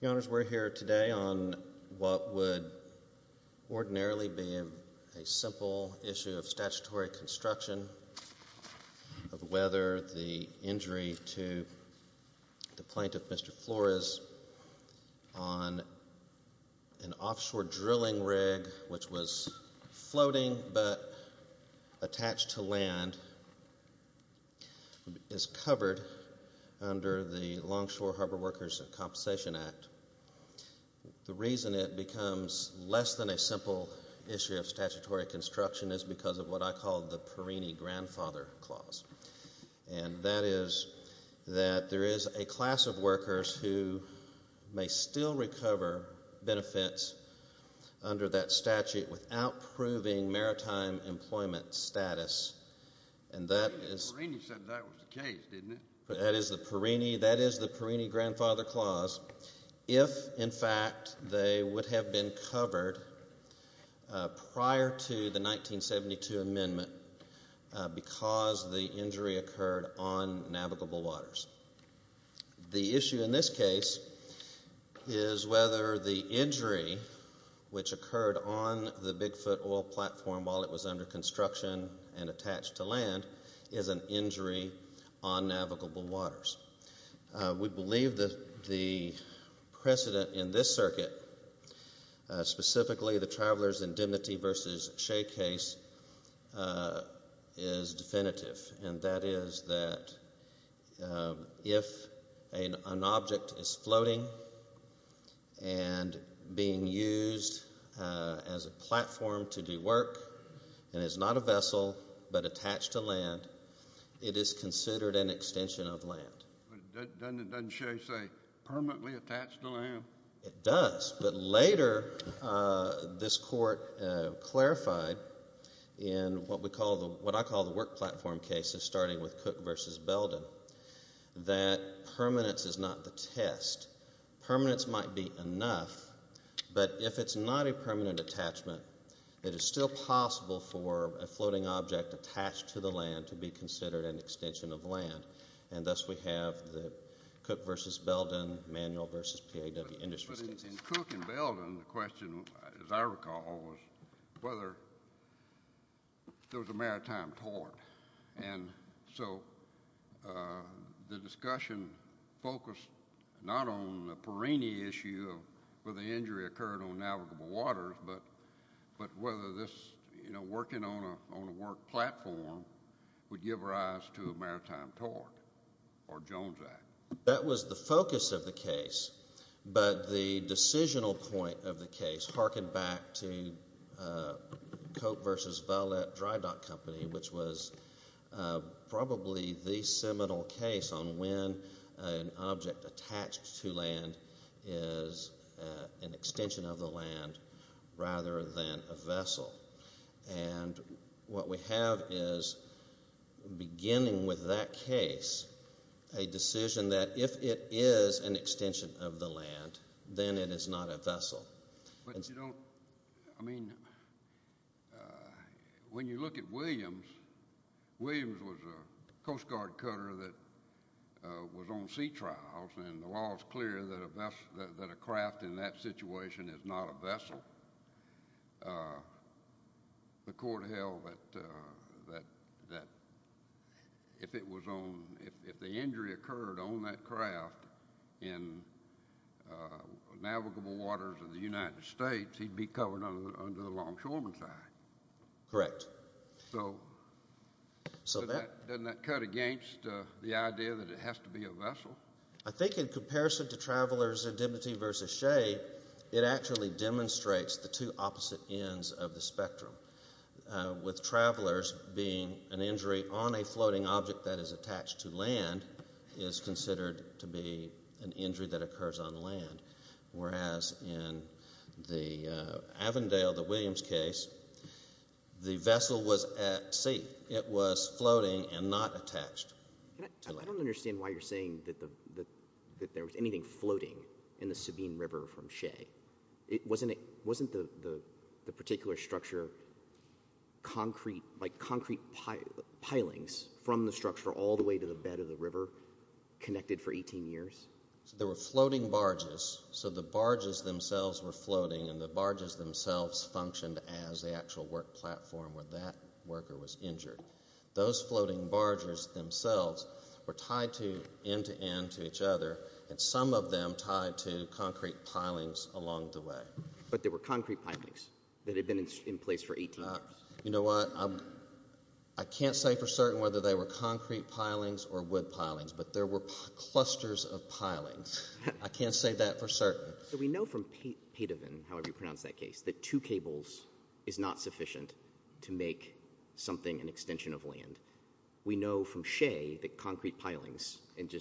The Honors, we're here today on what would ordinarily be a simple issue of statutory construction of whether the injury to the plaintiff, Mr. Flores, on an offshore drilling rig, which was floating but attached to land, is covered under the Longshore Harbor Workers Compensation Act. The reason it becomes less than a simple issue of statutory construction is because of what I call the Perini Grandfather Clause. And that is that there is a class of workers who may still recover benefits under that statute without proving maritime employment status. And that is the Perini Grandfather Clause if, in fact, they would have been The issue in this case is whether the injury which occurred on the Bigfoot oil platform while it was under construction and attached to land is an injury on navigable waters. We believe that the precedent in this circuit, specifically the Travelers' Indemnity v. Shea case, is definitive. And that is that if an object is floating and being used as a platform to do work and is not a vessel but attached to land, it is considered an extension of land. Doesn't Shea say permanently attached to land? It does, but later this court clarified in what I call the Work Platform cases, starting with Cook v. Belden, that permanence is not the test. Permanence might be enough, but if it's not a permanent attachment, it is still possible for a floating object attached to the land to be considered an extension of land. And thus we have the Cook v. Belden, Manual v. PAW Industries. But in Cook and Belden, the question, as I recall, was whether there was a maritime tort. And so the discussion focused not on the Perrini issue of whether the injury occurred on navigable waters, but whether working on a work platform would give rise to a maritime tort or Jones Act. That was the focus of the case, but the decisional point of the case harkened back to Cook v. Vallette Dry Dock Company, which was probably the seminal case on when an object attached to land is an extension of the land rather than a vessel. And what we have is, beginning with that case, a decision that if it is an extension of the land, then it is not a vessel. But you don't, I mean, when you look at Williams, Williams was a Coast Guard cutter that was on sea trials and the law is clear that a craft in that situation is not a vessel. The court held that if it was on, if the injury occurred on that craft in navigable waters of the United States, he'd be covered under the Longshoremen's Act. Correct. So doesn't that cut against the idea that it has to be a vessel? I think in comparison to Travelers' Dignity v. Shea, it actually demonstrates the two opposite ends of the spectrum, with Travelers being an injury on a floating object that is attached to land, whereas in the Avondale v. Williams case, the vessel was at sea. It was floating and not attached. I don't understand why you're saying that there was anything floating in the Sabine River from Shea. Wasn't the particular structure concrete, like concrete pilings from the structure all the way to the bed of the river connected for 18 years? So there were floating barges, so the barges themselves were floating and the barges themselves functioned as the actual work platform where that worker was injured. Those floating barges themselves were tied end-to-end to each other and some of them tied to concrete pilings along the way. But there were concrete pilings that had been in place for 18 years? You know what, I can't say for certain whether they were concrete pilings or wood pilings, but there were clusters of pilings. I can't say that for certain. So we know from Padovan, however you pronounce that case, that two cables is not sufficient to make something an extension of land. We know from Shea that concrete pilings, and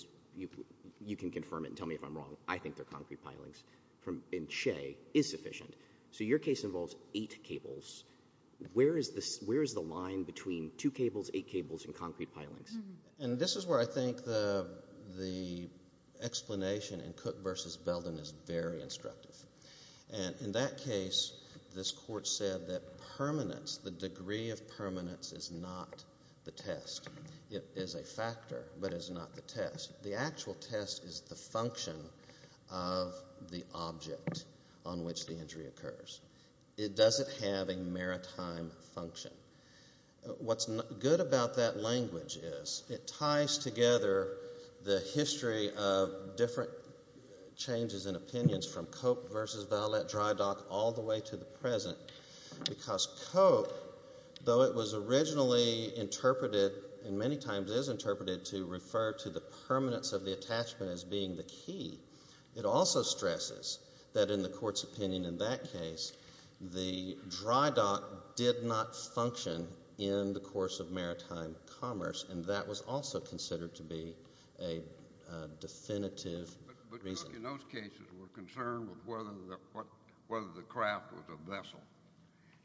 you can confirm it and tell me if I'm wrong, I think they're concrete pilings, in Shea is sufficient. So your case involves eight cables. Where is the line between two cables, eight cables, and concrete pilings? And this is where I think the explanation in Cook v. Belden is very instructive. And in that case, this court said that permanence, the degree of permanence, is not the test. It is a factor, but it's not the test. The actual test is the function of the object on which the injury occurs. It doesn't have a maritime function. What's good about that is it ties together the history of different changes in opinions from Cope v. Valette dry dock all the way to the present. Because Cope, though it was originally interpreted and many times is interpreted to refer to the permanence of the attachment as being the key, it also stresses that in the court's opinion in that case, the dry dock did not function in the course of maritime commerce, and that was also considered to be a definitive reason. But Cook in those cases were concerned with whether the craft was a vessel.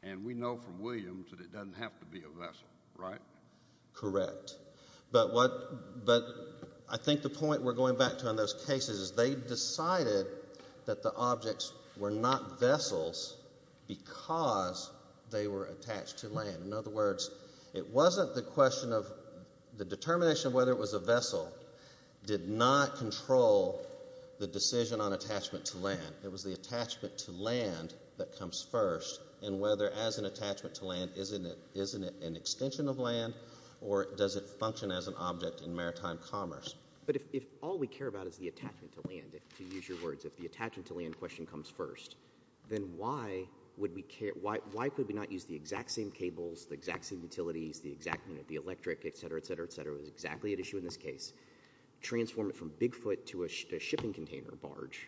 And we know from Williams that it doesn't have to be a vessel, right? Correct. But I think the point we're going back to in those cases is they decided that the objects were not vessels because they were attached to land. In other words, it wasn't the question of the determination of whether it was a vessel did not control the decision on attachment to land. It was the attachment to land that comes first and whether as an attachment to land, isn't it an extension of land or does it function as an object in maritime commerce? But if all we care about is the attachment to land, if you use your words, if the attachment to land question comes first, then why could we not use the exact same cables, the exact same utilities, the electric, et cetera, et cetera, et cetera was exactly at issue in this case, transform it from Bigfoot to a shipping container barge,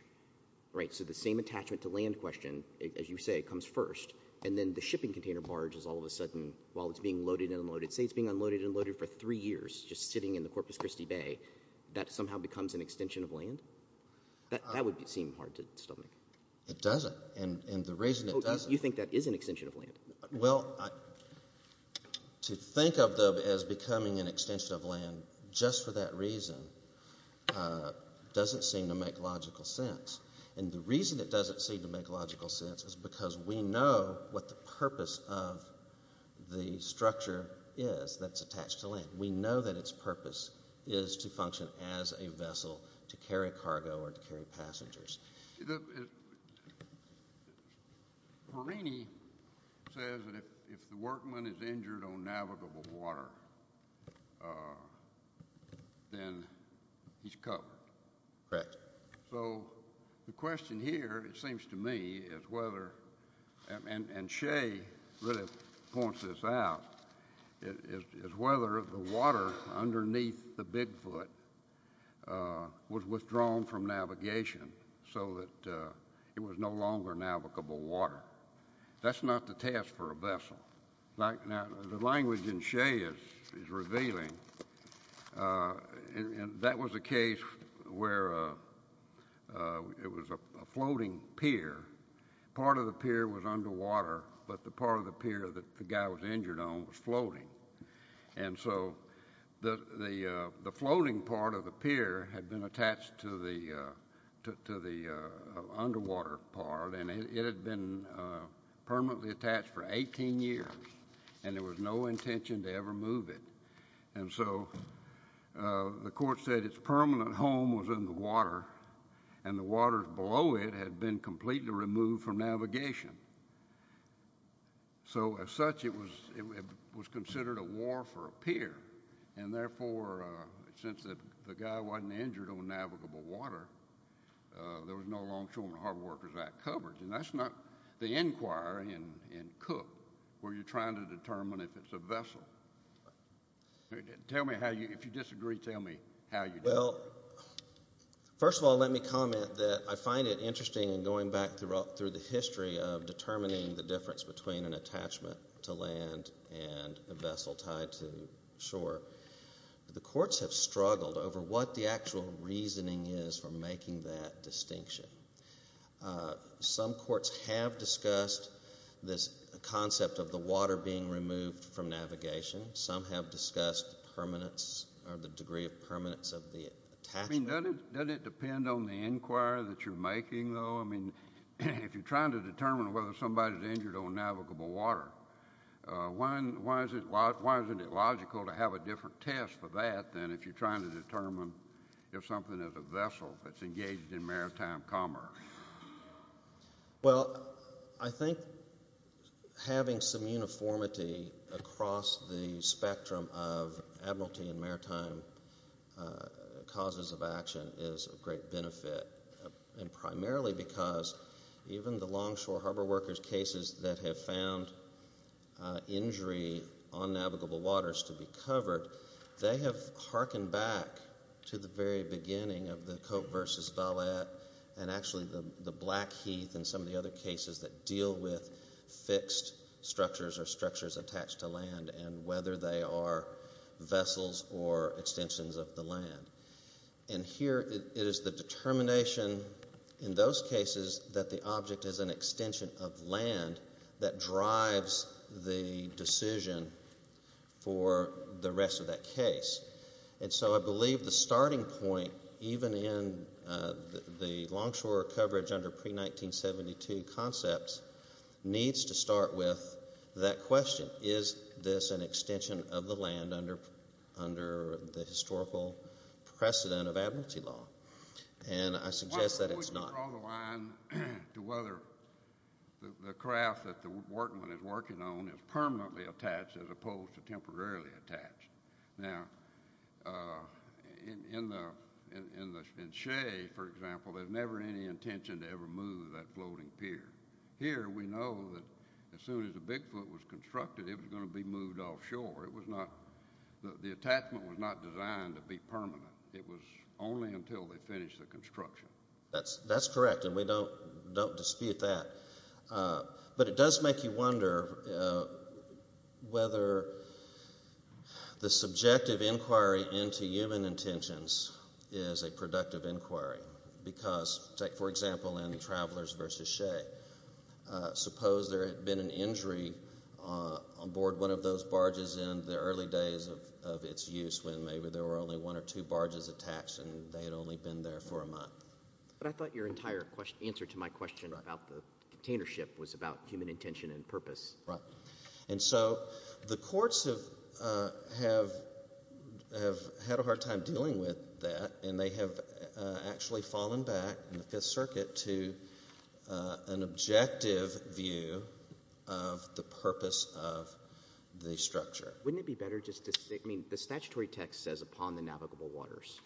right? So the same attachment to land question, as you say, comes first. And then the shipping container barge is all of a sudden, while it's being loaded and unloaded, say it's being unloaded and loaded for three years, just sitting in the Corpus Christi Bay, that somehow becomes an extension of land? That would seem hard to stomach. It doesn't. And the reason it doesn't- You think that is an extension of land? Well, to think of them as becoming an extension of land just for that reason doesn't seem to make logical sense. And the reason it doesn't seem to make logical sense is because we know what the purpose of the structure is that's attached to land. We know that its purpose is to function as a vessel to carry cargo or to carry passengers. The- Perini says that if the workman is injured on navigable water, then he's covered. Correct. So the question here, it seems to me, is whether- and Shea really points this out- is whether the water underneath the Bigfoot was withdrawn from navigation so that it was no longer navigable water. That's not the task for a vessel. Now, the language in Shea is revealing, and that was a case where it was a floating pier. Part of the pier was underwater, but the part of the pier that the guy was injured on was floating. And so the floating part of the pier had been attached to the underwater part, and it had been permanently attached for 18 years, and there was no intention to ever move it. And so the court said its permanent home was in the water, and the water below it had been completely removed from navigation. So as such, it was considered a war for a pier, and therefore, since the guy wasn't injured on navigable water, there was no Longshoreman Harbor Workers Act coverage. And that's not the inquiry in Cook where you're trying to determine if it's a vessel. Tell me how you- if you disagree, tell me how you- Well, first of all, let me comment that I find it interesting in going back through the history of determining the difference between an attachment to land and a vessel tied to shore. The courts have struggled over what the actual reasoning is for making that distinction. Some courts have discussed the degree of permanence of the attachment. I mean, doesn't it depend on the inquiry that you're making, though? I mean, if you're trying to determine whether somebody's injured on navigable water, why isn't it logical to have a different test for that than if you're trying to determine if something is a vessel that's engaged in maritime commerce? Well, I think having some uniformity across the spectrum of admiralty and maritime causes of action is of great benefit, and primarily because even the Longshore Harbor Workers cases that have found injury on navigable waters to be covered, they have harkened back to the very beginning of the Cope versus Vallette and actually the Blackheath and some of the other cases that deal with fixed structures or structures attached to land and whether they are vessels or extensions of the land. And here, it is the determination in those cases that the object is an extension of land that drives the decision for the rest of that case. And so I believe the starting point, even in the longshore coverage under pre-1972 concepts, needs to start with that question, is this an extension of the land under the historical precedent of admiralty law? And I suggest that it's not. Why don't we draw the line to whether the craft that the workingman is working on is permanently attached as opposed to temporarily attached? Now, in Shea, for example, there's never any intention to ever move that floating pier. Here, we know that as soon as the Bigfoot was constructed, it was going to be moved offshore. The attachment was not designed to be permanent. It was only until they finished the construction. That's correct, and we don't dispute that. But it does make you wonder whether the subjective inquiry into human intentions is a productive inquiry. Because, for example, in Travelers versus Shea, suppose there had been an injury on board one of those barges in the early days of its use when maybe there were only one or two barges attached and they had only been there for a month. But I thought your entire answer to my question about the container ship was about human intention and purpose. Right, and so the courts have had a hard time dealing with that, and they have actually fallen back in the Fifth Circuit to an objective view of the purpose of the structure. Wouldn't it be better just to say, I mean, the statutory text says, upon the navigable waters.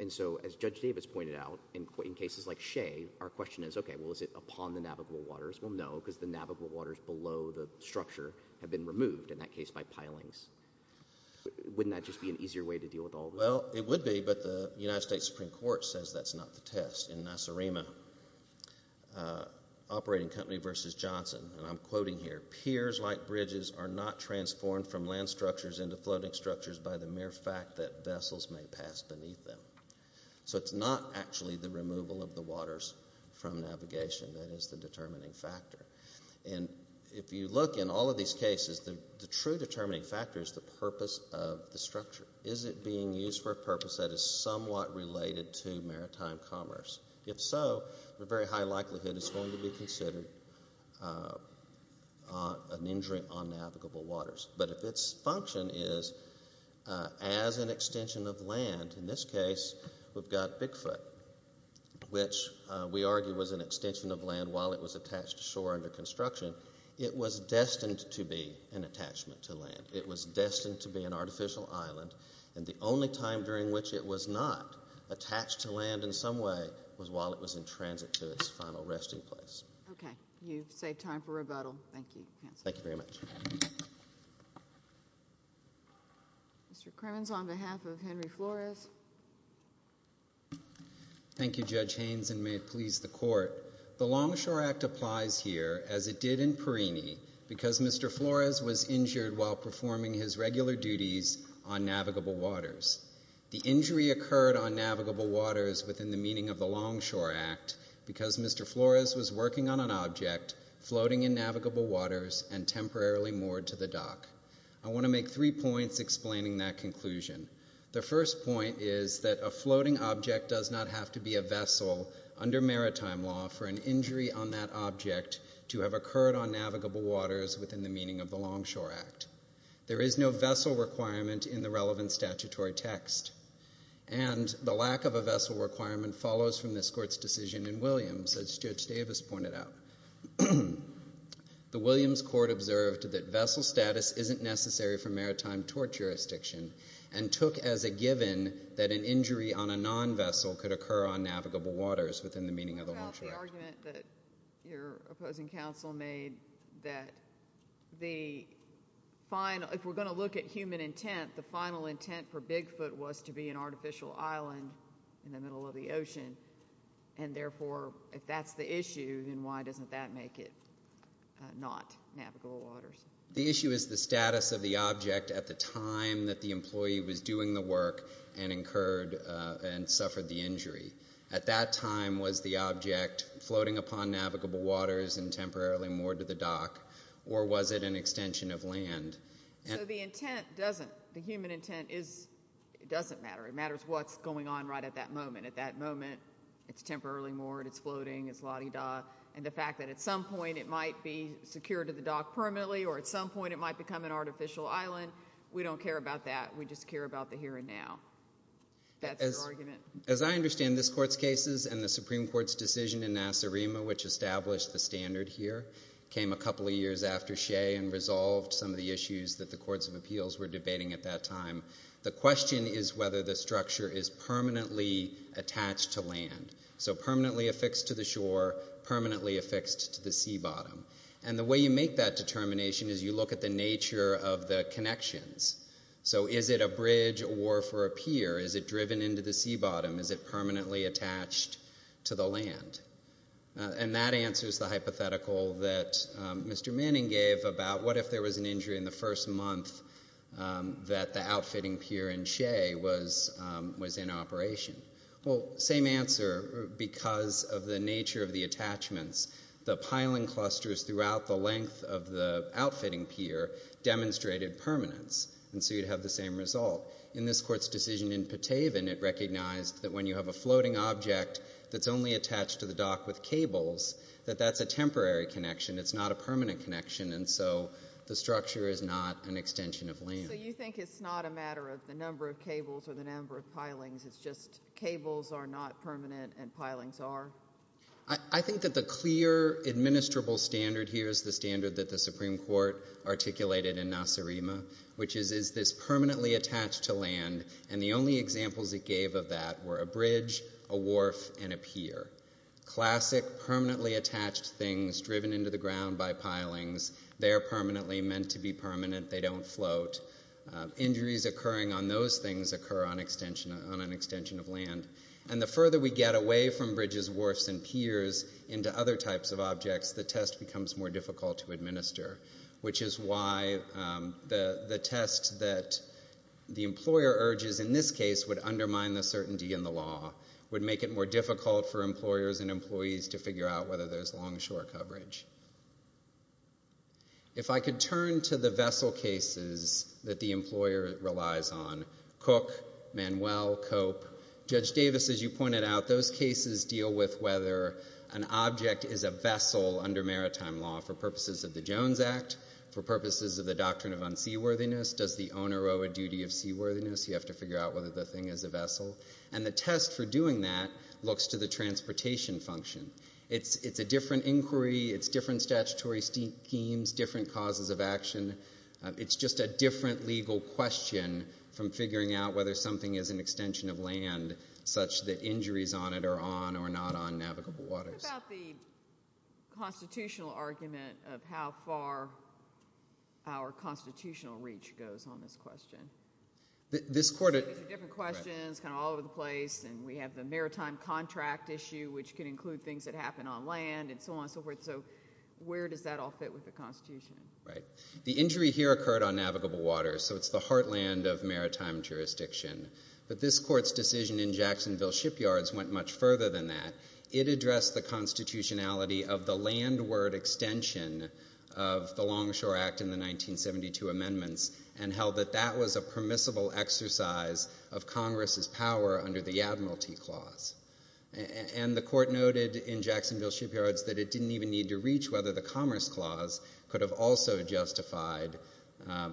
And so, as Judge Davis pointed out, in cases like Shea, our question is, okay, well, is it upon the navigable waters? Well, no, because the navigable waters below the structure have been removed, in that case, by pilings. Wouldn't that just be an easier way to deal with all this? Well, it would be, but the United States Supreme Court says that's not the test. In Nacerima, Operating Company versus Johnson, and I'm quoting here, piers like bridges are not transformed from land structures into floating structures by the mere force from navigation. That is the determining factor. And if you look in all of these cases, the true determining factor is the purpose of the structure. Is it being used for a purpose that is somewhat related to maritime commerce? If so, a very high likelihood it's going to be considered an injury on navigable waters. But if its function is as an extension of land, in this case, we've got Bigfoot, which we argue was an extension of land while it was attached to shore under construction. It was destined to be an attachment to land. It was destined to be an artificial island, and the only time during which it was not attached to land in some way was while it was in transit to its final resting place. Okay. You've saved time for rebuttal. Thank you. Thank you very much. Mr. Kremins, on behalf of Henry Flores. Thank you, Judge Haynes, and may it please the court. The Longshore Act applies here as it did in Perini because Mr. Flores was injured while performing his regular duties on navigable waters. The injury occurred on navigable waters within the meaning of the Longshore Act because Mr. Flores was working on an object floating in the dock. I want to make three points explaining that conclusion. The first point is that a floating object does not have to be a vessel under maritime law for an injury on that object to have occurred on navigable waters within the meaning of the Longshore Act. There is no vessel requirement in the relevant statutory text, and the lack of a vessel requirement follows from this court's decision in Williams, as Judge Davis pointed out. The Williams court observed that vessel status isn't necessary for maritime tort jurisdiction and took as a given that an injury on a non-vessel could occur on navigable waters within the meaning of the Longshore Act. What about the argument that your opposing counsel made that if we're going to look at human intent, the final intent for Bigfoot was to be an artificial island in the middle of the ocean, and therefore if that's the issue, then why doesn't that make it not navigable waters? The issue is the status of the object at the time that the employee was doing the work and incurred and suffered the injury. At that time was the object floating upon navigable waters and temporarily moored to the dock, or was it an artificial island? It doesn't matter. It matters what's going on right at that moment. At that moment, it's temporarily moored, it's floating, it's la-di-da, and the fact that at some point it might be secured to the dock permanently or at some point it might become an artificial island, we don't care about that. We just care about the here and now. That's the argument. As I understand this court's cases and the Supreme Court's decision in Nassarima, which established the standard here, came a couple of years after Shea and resolved some of the issues that the the structure is permanently attached to land. So permanently affixed to the shore, permanently affixed to the sea bottom. And the way you make that determination is you look at the nature of the connections. So is it a bridge or for a pier? Is it driven into the sea bottom? Is it permanently attached to the land? And that answers the hypothetical that Mr. Manning gave about what if there was an injury in the first month that the outfitting pier in Shea was in operation. Well, same answer. Because of the nature of the attachments, the piling clusters throughout the length of the outfitting pier demonstrated permanence. And so you'd have the same result. In this court's decision in Pataven, it recognized that when you have a floating object that's only attached to the dock with cables, that that's a temporary connection. It's not a permanent connection. And so the structure is not an extension of land. So you think it's not a matter of the number of cables or the number of pilings, it's just cables are not permanent and pilings are? I think that the clear administrable standard here is the standard that the Supreme Court articulated in Nasarima, which is, is this permanently attached to land? And the only examples it gave of that were a bridge, a wharf, and a pier. Classic permanently attached things driven into the ground by pilings. They're permanently meant to be permanent. They don't float. Injuries occurring on those things occur on an extension of land. And the further we get away from bridges, wharfs, and piers into other types of objects, the test becomes more difficult to administer, which is why the test that the employer urges in this case would undermine the certainty in the law, would make it more difficult for employers and employees to figure out whether there's longshore coverage. If I could turn to the vessel cases that the employer relies on, Cook, Manuel, Cope, Judge Davis, as you pointed out, those cases deal with whether an object is a vessel under maritime law for purposes of the Jones Act, for purposes of the Doctrine of Unseaworthiness. Does the owner owe a duty of seaworthiness? You have to figure out whether the thing is a vessel. And the test for doing that looks to the transportation function. It's a different inquiry. It's different statutory schemes, different causes of action. It's just a different legal question from figuring out whether something is an extension of land, such that injuries on it are on or not on navigable waters. What about the constitutional argument of how far our constitutional reach goes on this question? There's different questions kind of all over the land and so on and so forth, so where does that all fit with the Constitution? Right. The injury here occurred on navigable waters, so it's the heartland of maritime jurisdiction. But this Court's decision in Jacksonville Shipyards went much further than that. It addressed the constitutionality of the landward extension of the Longshore Act in the 1972 Amendments and held that that was a permissible exercise of Congress's power under the Admiralty that it didn't even need to reach whether the Commerce Clause could have also justified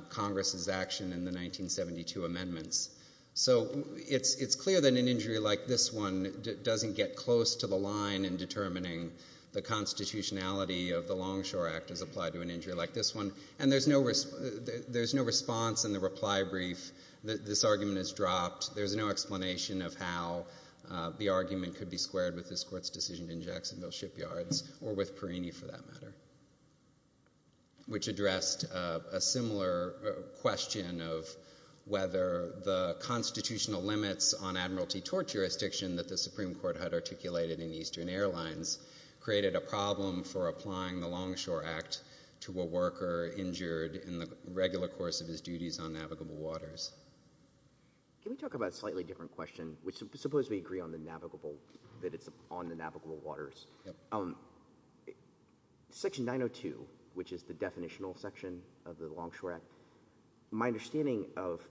Congress's action in the 1972 Amendments. So it's clear that an injury like this one doesn't get close to the line in determining the constitutionality of the Longshore Act as applied to an injury like this one. And there's no response in the reply brief that this argument is dropped. There's no explanation of how the argument could be squared with this Court's decision in Jacksonville Shipyards or with Perrini for that matter, which addressed a similar question of whether the constitutional limits on Admiralty torch jurisdiction that the Supreme Court had articulated in Eastern Airlines created a problem for applying the Longshore Act to a worker injured in the regular course of his duties on navigable waters. Can we talk about a slightly different question, which supposedly agree on the navigable, that it's on the navigable waters. Section 902, which is the definitional section of the Longshore Act, my understanding of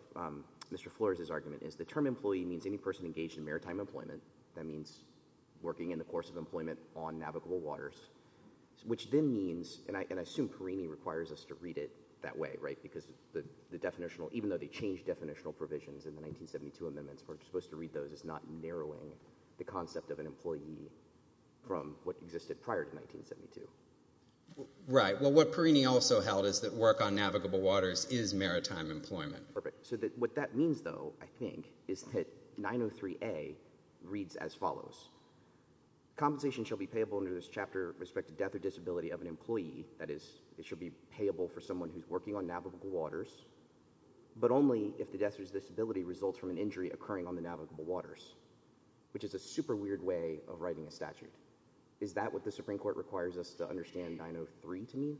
Mr. Flores's argument is the term employee means any person engaged in maritime employment. That means working in the course of employment on navigable waters, which then means, and I assume Perrini requires us to read it that way, right? Because the definitional, even though they changed definitional provisions in the 1972 amendments, we're supposed to read those as not narrowing the concept of an employee from what existed prior to 1972. Right. Well, what Perrini also held is that work on navigable waters is maritime employment. Perfect. So what that means though, I think, is that 903A reads as follows. Compensation shall be payable under this chapter with respect to death or disability of an employee. That is, it should be payable for the death or disability results from an injury occurring on the navigable waters, which is a super weird way of writing a statute. Is that what the Supreme Court requires us to understand 903 to mean?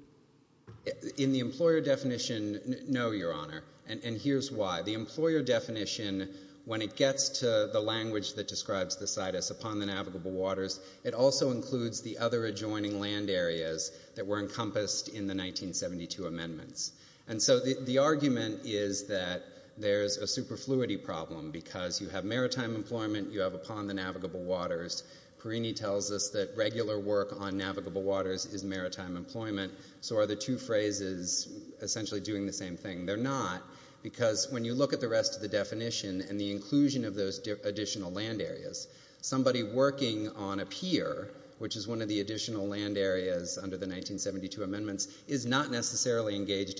In the employer definition, no, Your Honor. And here's why. The employer definition, when it gets to the language that describes the situs upon the navigable waters, it also includes the other adjoining land areas that were encompassed in the 1972 amendments. And so the argument is that there's a super fluidity problem because you have maritime employment, you have upon the navigable waters. Perrini tells us that regular work on navigable waters is maritime employment. So are the two phrases essentially doing the same thing? They're not because when you look at the rest of the definition and the inclusion of those additional land areas, somebody working on a pier, which is one of the additional land areas under the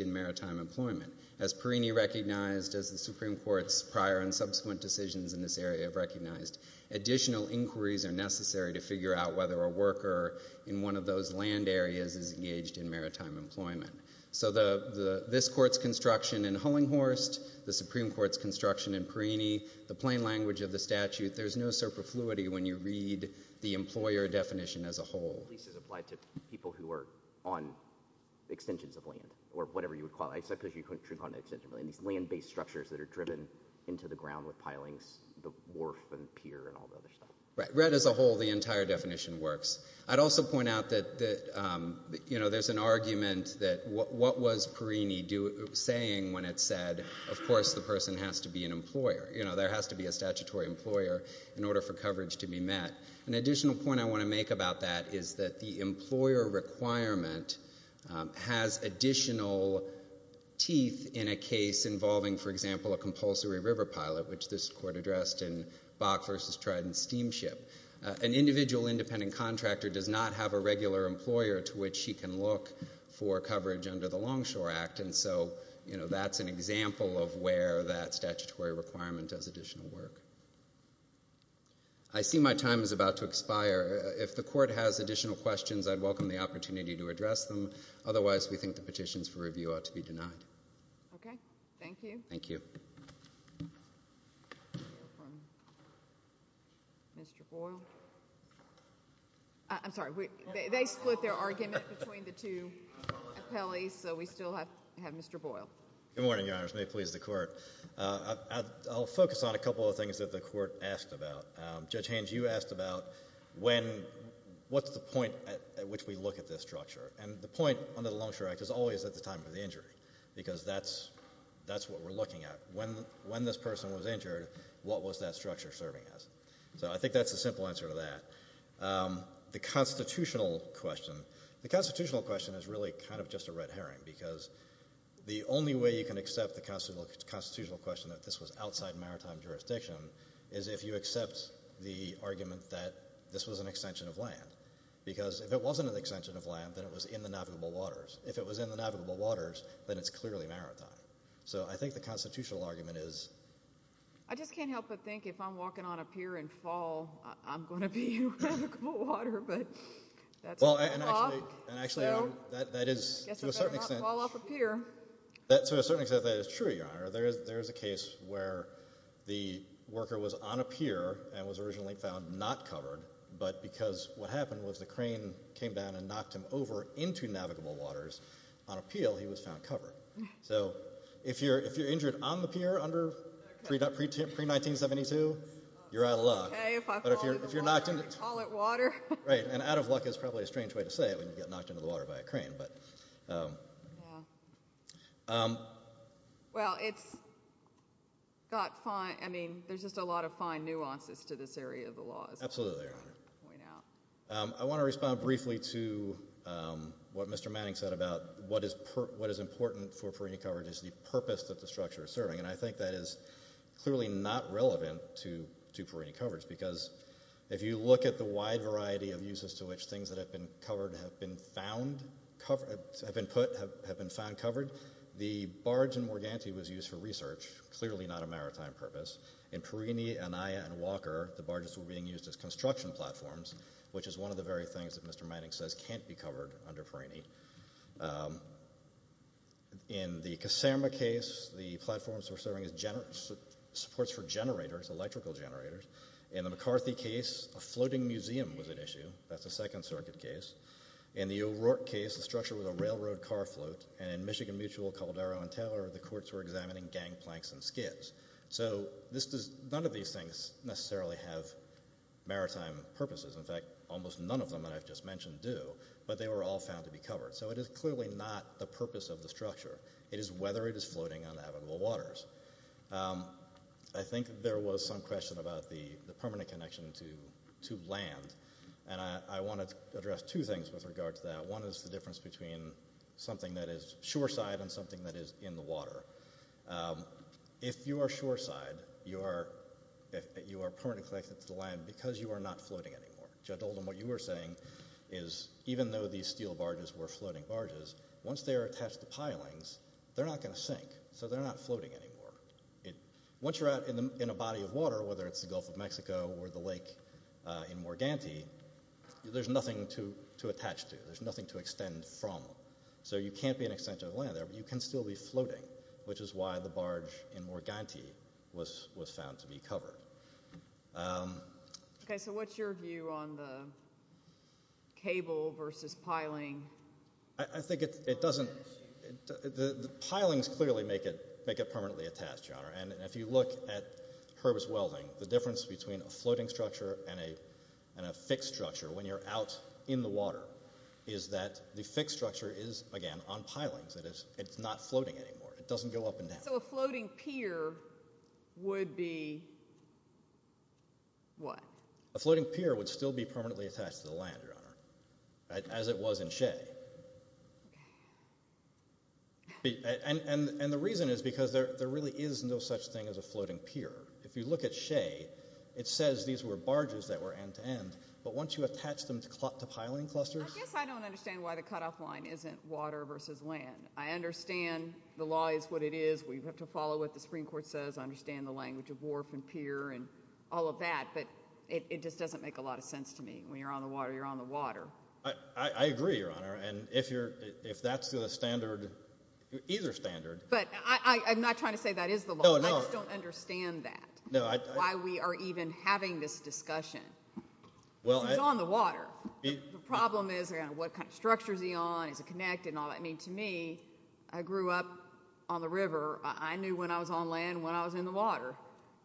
maritime employment. As Perrini recognized, as the Supreme Court's prior and subsequent decisions in this area have recognized, additional inquiries are necessary to figure out whether a worker in one of those land areas is engaged in maritime employment. So this Court's construction in Hullinghorst, the Supreme Court's construction in Perrini, the plain language of the statute, there's no super fluidity when you read the employer definition as a whole. At least it's applied to people who are on extensions of land or whatever you would call it. I said because you couldn't call it an extension of land. These land-based structures that are driven into the ground with pilings, the wharf and pier and all the other stuff. Right, read as a whole, the entire definition works. I'd also point out that, you know, there's an argument that what was Perrini saying when it said, of course, the person has to be an employer, you know, there has to be a statutory employer in order for coverage to be met. An additional point I want to make about that is that the employer requirement has additional teeth in a case involving, for example, a compulsory river pilot, which this Court addressed in Bach v. Trident Steamship. An individual independent contractor does not have a regular employer to which he can look for coverage under the Longshore Act. And so, you know, that's an example of where that statutory requirement does additional work. I see my time is about to expire. If the Court has additional questions, I'd welcome the opportunity to address them. Otherwise, we think the petitions for review ought to be denied. Okay. Thank you. Thank you. Mr. Boyle. I'm sorry. They split their argument between the two appellees, so we still have Mr. Boyle. Good morning, Your Honor. May it be so. I'll focus on a couple of things that the Court asked about. Judge Haines, you asked about when, what's the point at which we look at this structure? And the point under the Longshore Act is always at the time of the injury, because that's what we're looking at. When this person was injured, what was that structure serving as? So I think that's the simple answer to that. The constitutional question, the constitutional question is really kind of just a red herring, because the only way you can accept the constitutional question that this was outside maritime jurisdiction is if you accept the argument that this was an extension of land, because if it wasn't an extension of land, then it was in the navigable waters. If it was in the navigable waters, then it's clearly maritime. So I think the constitutional argument is... I just can't help but think if I'm walking on a pier in fall, I'm going to be in navigable water, but that's a law. So I guess I better not fall off a pier. To a certain extent, that is true, Your Honor. There is a case where the worker was on a pier and was originally found not covered, but because what happened was the crane came down and knocked him over into navigable waters on appeal, he was found covered. So if you're injured on the pier under pre-1972, you're out of luck. Right, and out of luck is probably a strange way to say it when you get knocked into the water by a crane, but... Well, it's got fine, I mean, there's just a lot of fine nuances to this area of the law. Absolutely, Your Honor. I want to respond briefly to what Mr. Manning said about what is important for marine coverage is the purpose that the clearly not relevant to perine coverage because if you look at the wide variety of uses to which things that have been covered have been found, have been put, have been found covered, the barge in Morganti was used for research, clearly not a maritime purpose. In Perini, Anaya, and Walker, the barges were being used as construction platforms, which is one of the very things that Mr. Manning says can't be covered under Perini. In the Caserma case, the platforms were serving as supports for generators, electrical generators. In the McCarthy case, a floating museum was an issue. That's a Second Circuit case. In the O'Rourke case, the structure was a railroad car float, and in Michigan Mutual, Caldero, and Taylor, the courts were examining gang planks and skids. So none of these things necessarily have maritime purposes. In fact, almost none of them that I've just mentioned do, but they were all found to be covered. So it is I think there was some question about the permanent connection to land, and I want to address two things with regard to that. One is the difference between something that is shoreside and something that is in the water. If you are shoreside, you are permanently connected to the land because you are not floating anymore. Judge Oldham, what you were saying is even though these steel barges were floating barges, once they are attached to pilings, they're not going to sink, so they're not floating anymore. Once you're out in a body of water, whether it's the Gulf of Mexico or the lake in Morganty, there's nothing to attach to. There's nothing to extend from, so you can't be an extension of land there, but you can still be floating, which is why the barge in Morganty was found to be covered. Okay, so what's your view on the piling? I think the pilings clearly make it permanently attached, Your Honor, and if you look at Herb's Welding, the difference between a floating structure and a fixed structure when you're out in the water is that the fixed structure is again on pilings. It's not floating anymore. It doesn't go up and down. So a floating pier would be what? A floating pier would still permanently attached to the land, Your Honor, as it was in Shea, and the reason is because there really is no such thing as a floating pier. If you look at Shea, it says these were barges that were end-to-end, but once you attach them to piling clusters... I guess I don't understand why the cutoff line isn't water versus land. I understand the law is what it is. We have to follow what the Supreme Court says. I understand the language of wharf and pier and all of that, but it just doesn't make a sense to me. When you're on the water, you're on the water. I agree, Your Honor, and if that's the standard, either standard... But I'm not trying to say that is the law. I just don't understand that, why we are even having this discussion. He's on the water. The problem is what kind of structure is he on? Is it connected and all that? I mean, to me, I grew up on the river. I knew when I was on land when I was in the water,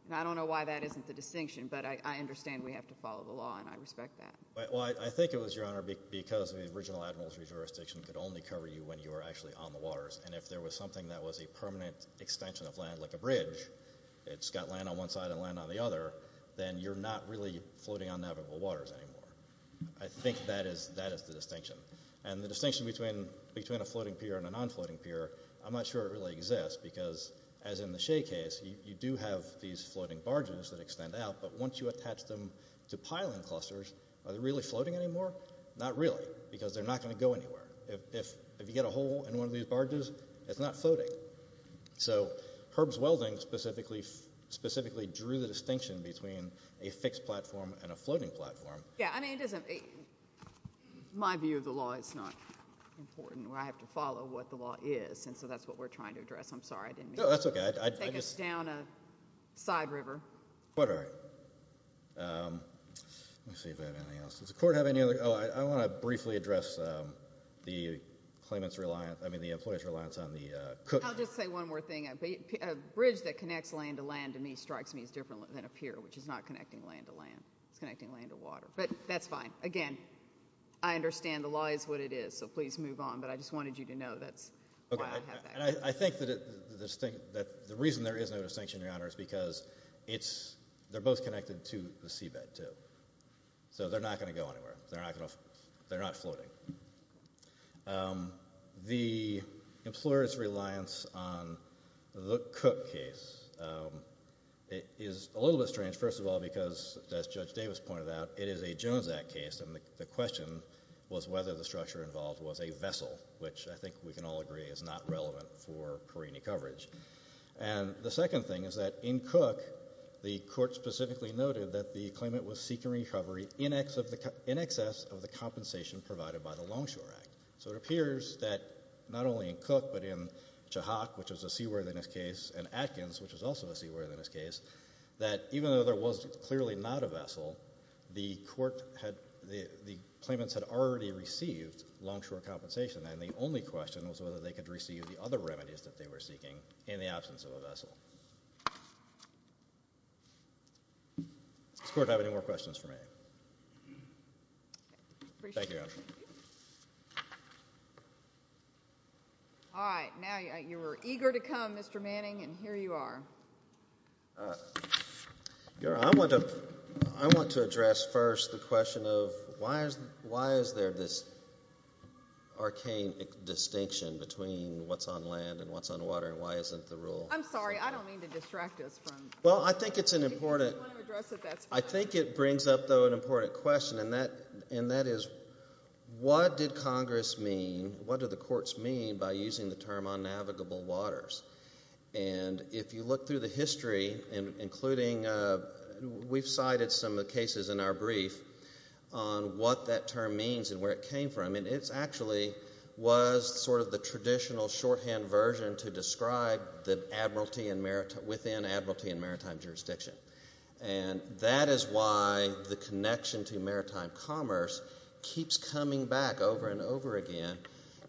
and I don't know why that isn't the distinction, but I understand we have to follow the law and respect that. Well, I think it was, Your Honor, because the original administrative jurisdiction could only cover you when you were actually on the waters, and if there was something that was a permanent extension of land, like a bridge, it's got land on one side and land on the other, then you're not really floating on navigable waters anymore. I think that is the distinction, and the distinction between a floating pier and a non-floating pier, I'm not sure it really exists, because as in the Shea case, you do have these floating barges that extend out, but once you attach them to piling clusters, are they really floating anymore? Not really, because they're not going to go anywhere. If you get a hole in one of these barges, it's not floating. So Herb's welding specifically drew the distinction between a fixed platform and a floating platform. Yeah, I mean, my view of the law is not important. I have to follow what the law is, and so that's what we're trying to address. I'm sorry, I didn't mean to. No, that's okay. I think it's down a side river. But all right. Let me see if I have anything else. Does the court have any other? Oh, I want to briefly address the claimant's reliance, I mean, the employee's reliance on the cook. I'll just say one more thing. A bridge that connects land to land, to me, strikes me as different than a pier, which is not connecting land to land. It's connecting land to water, but that's fine. Again, I understand the law is what it is, so please move on, but I just wanted you to know that's why I have that. I think that the reason there is no distinction, Your Honor, is because they're both connected to the seabed, too. So they're not going to go anywhere. They're not floating. The employer's reliance on the cook case is a little bit strange, first of all, because, as Judge Davis pointed out, it is a Jones Act case, and the question was whether the structure involved was a vessel, which I think we can all agree is not relevant for Perini coverage. And the second thing is that in Cook, the court specifically noted that the claimant was seeking recovery in excess of the compensation provided by the Longshore Act. So it appears that, not only in Cook, but in Chahak, which was a seaworthiness case, and Atkins, which was also a vessel, the claimants had already received longshore compensation, and the only question was whether they could receive the other remedies that they were seeking in the absence of a vessel. Does the Court have any more questions for me? All right. Now, you were eager to come, Mr. Manning, and here you are. All right. I want to address first the question of why is there this arcane distinction between what's on land and what's on water, and why isn't the rule? I'm sorry. I don't mean to distract us from... Well, I think it's an important... If you want to address it, that's fine. I think it brings up, though, an important question, and that is, what did Congress mean, what do the courts mean by using the term unnavigable waters? And if you look through the history, including... We've cited some of the cases in our brief on what that term means and where it came from, and it actually was sort of the traditional shorthand version to describe within admiralty and maritime jurisdiction. And that is why the connection to maritime commerce keeps coming back over and over again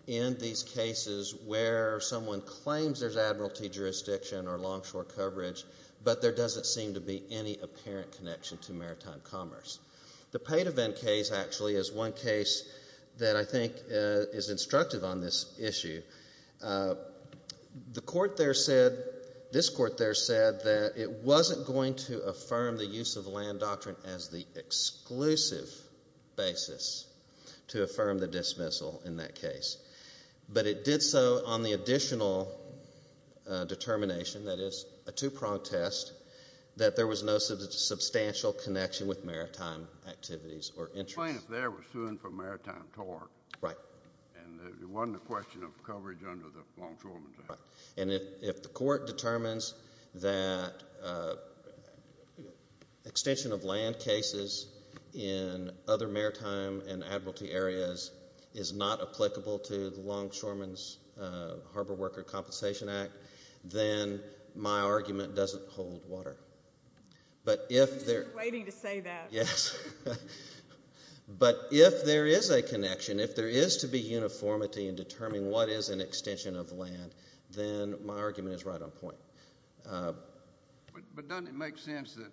in these cases where someone claims there's admiralty jurisdiction or longshore coverage, but there doesn't seem to be any apparent connection to maritime commerce. The Pate event case, actually, is one case that I think is instructive on this issue. This court there said that it wasn't going to affirm the use of land doctrine as the exclusive basis to affirm the dismissal in that case, but it did so on the additional determination, that is, a two-pronged test, that there was no substantial connection with maritime activities or interests. If they were suing for maritime tort. Right. And it wasn't a question of coverage under the longshoreman's act. And if the court determines that extension of land cases in other maritime and admiralty areas is not applicable to the longshoreman's harbor worker compensation act, then my argument doesn't hold water. I was just waiting to say that. Yes. But if there is a connection, if there is to be uniformity in determining what is an admiralty, then my argument is right on point. But doesn't it make sense that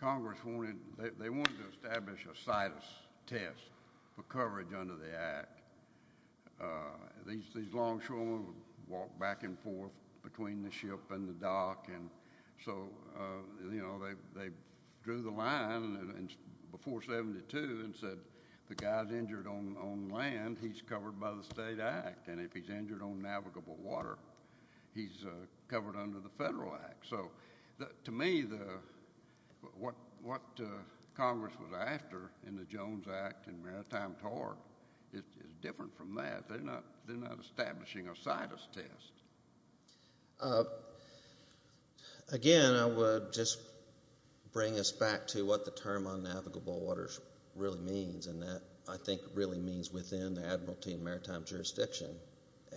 Congress wanted, they wanted to establish a situs test for coverage under the act. These longshoremen would walk back and forth between the ship and the dock, and so, you know, they drew the line before 72 and said, the guy's injured on land, he's covered by the state act, and if he's injured on navigable water, he's covered under the federal act. So to me, what Congress was after in the Jones Act and maritime tort is different from that. They're not establishing a situs test. Again, I would just bring us back to what the term on navigable waters really means, and that, I think, really means within the admiralty and maritime jurisdiction,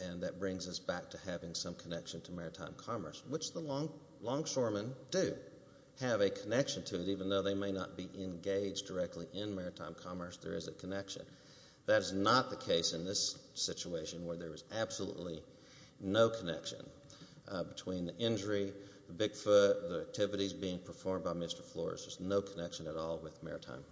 and that brings us back to having some connection to maritime commerce, which the longshoremen do have a connection to, even though they may not be engaged directly in maritime commerce, there is a connection. That is not the case in this situation where there is absolutely no connection between the injury, the Bigfoot, the activities being performed by Mr. Flores. There's no connection at all with maritime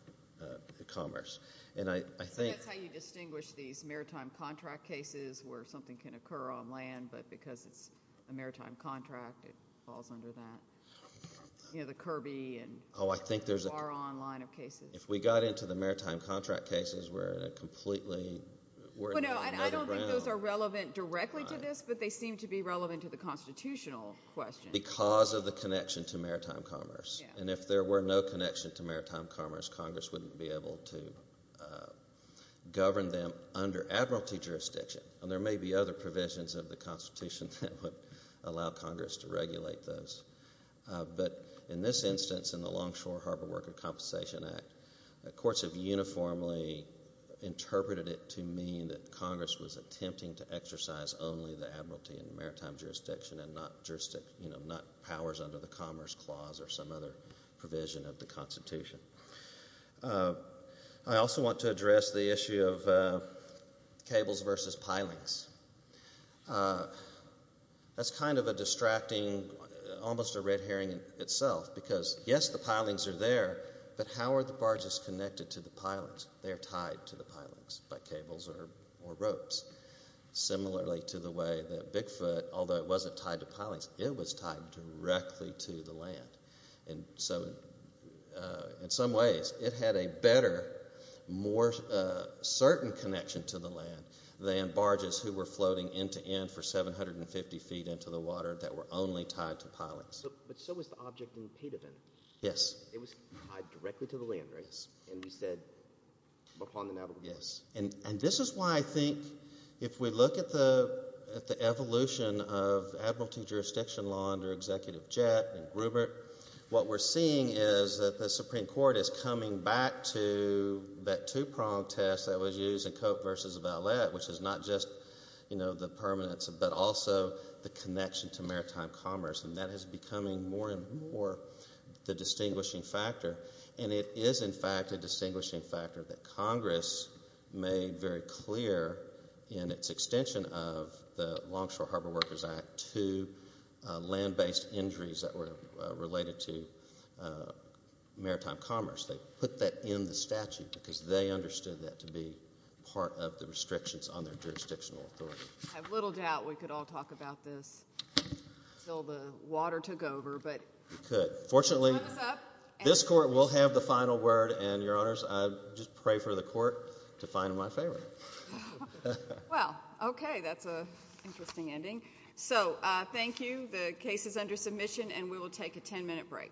commerce. That's how you distinguish these maritime contract cases where something can occur on land, but because it's a maritime contract, it falls under that. You know, the Kirby and Baron line of cases. If we got into the maritime contract cases, we're in a completely... I don't think those are relevant directly to this, but they seem to be relevant to the constitutional question. Because of the connection to maritime commerce, and if there were no connection to maritime commerce, Congress wouldn't be able to govern them under admiralty jurisdiction, and there may be other provisions of the Constitution that would allow Congress to regulate those. But in this instance, in the Longshore Harbor Worker Compensation Act, courts have uniformly interpreted it to mean that Congress was attempting to exercise only the admiralty and maritime jurisdiction, and not powers under the Commerce Clause or some other provision of the Constitution. I also want to address the issue of cables versus pilings. That's kind of a distracting, almost a red herring in itself, because yes, the pilings are there, but how are the barges connected to the pilings? They're tied to the pilings by cables or ropes. Similarly to the way that Bigfoot, although it wasn't tied to pilings, it was tied directly to the land. And so in some ways, it had a better, more certain connection to the land than barges who were floating end-to-end for 750 feet into the water that were only tied to pilings. But so was the object in Padovan. Yes. It was tied directly to the land, right? Yes. And we said, upon the Navajo River. Yes. And this is why I think, if we look at the evolution of admiralty jurisdiction law under Executive Jett and Gruber, what we're seeing is that the Supreme Court is coming back to that two-pronged test that was used in Cope versus Valette, which is not just the permanence, but also the connection to maritime commerce. And that is becoming more and more the distinguishing factor. And it is, in fact, a distinguishing factor that Congress made very clear in its extension of the Longshore Harbor Workers Act to land-based injuries that were related to maritime commerce. They put that in the statute because they understood that to be part of the restrictions on their jurisdictional authority. I have little doubt we could all talk about this until the water took over. We could. Fortunately, this Court will have the final word. And, Your Honors, I just pray for the Court to find my favorite. Well, okay. That's an interesting ending. So thank you. The case is under submission, and we will take a 10-minute break.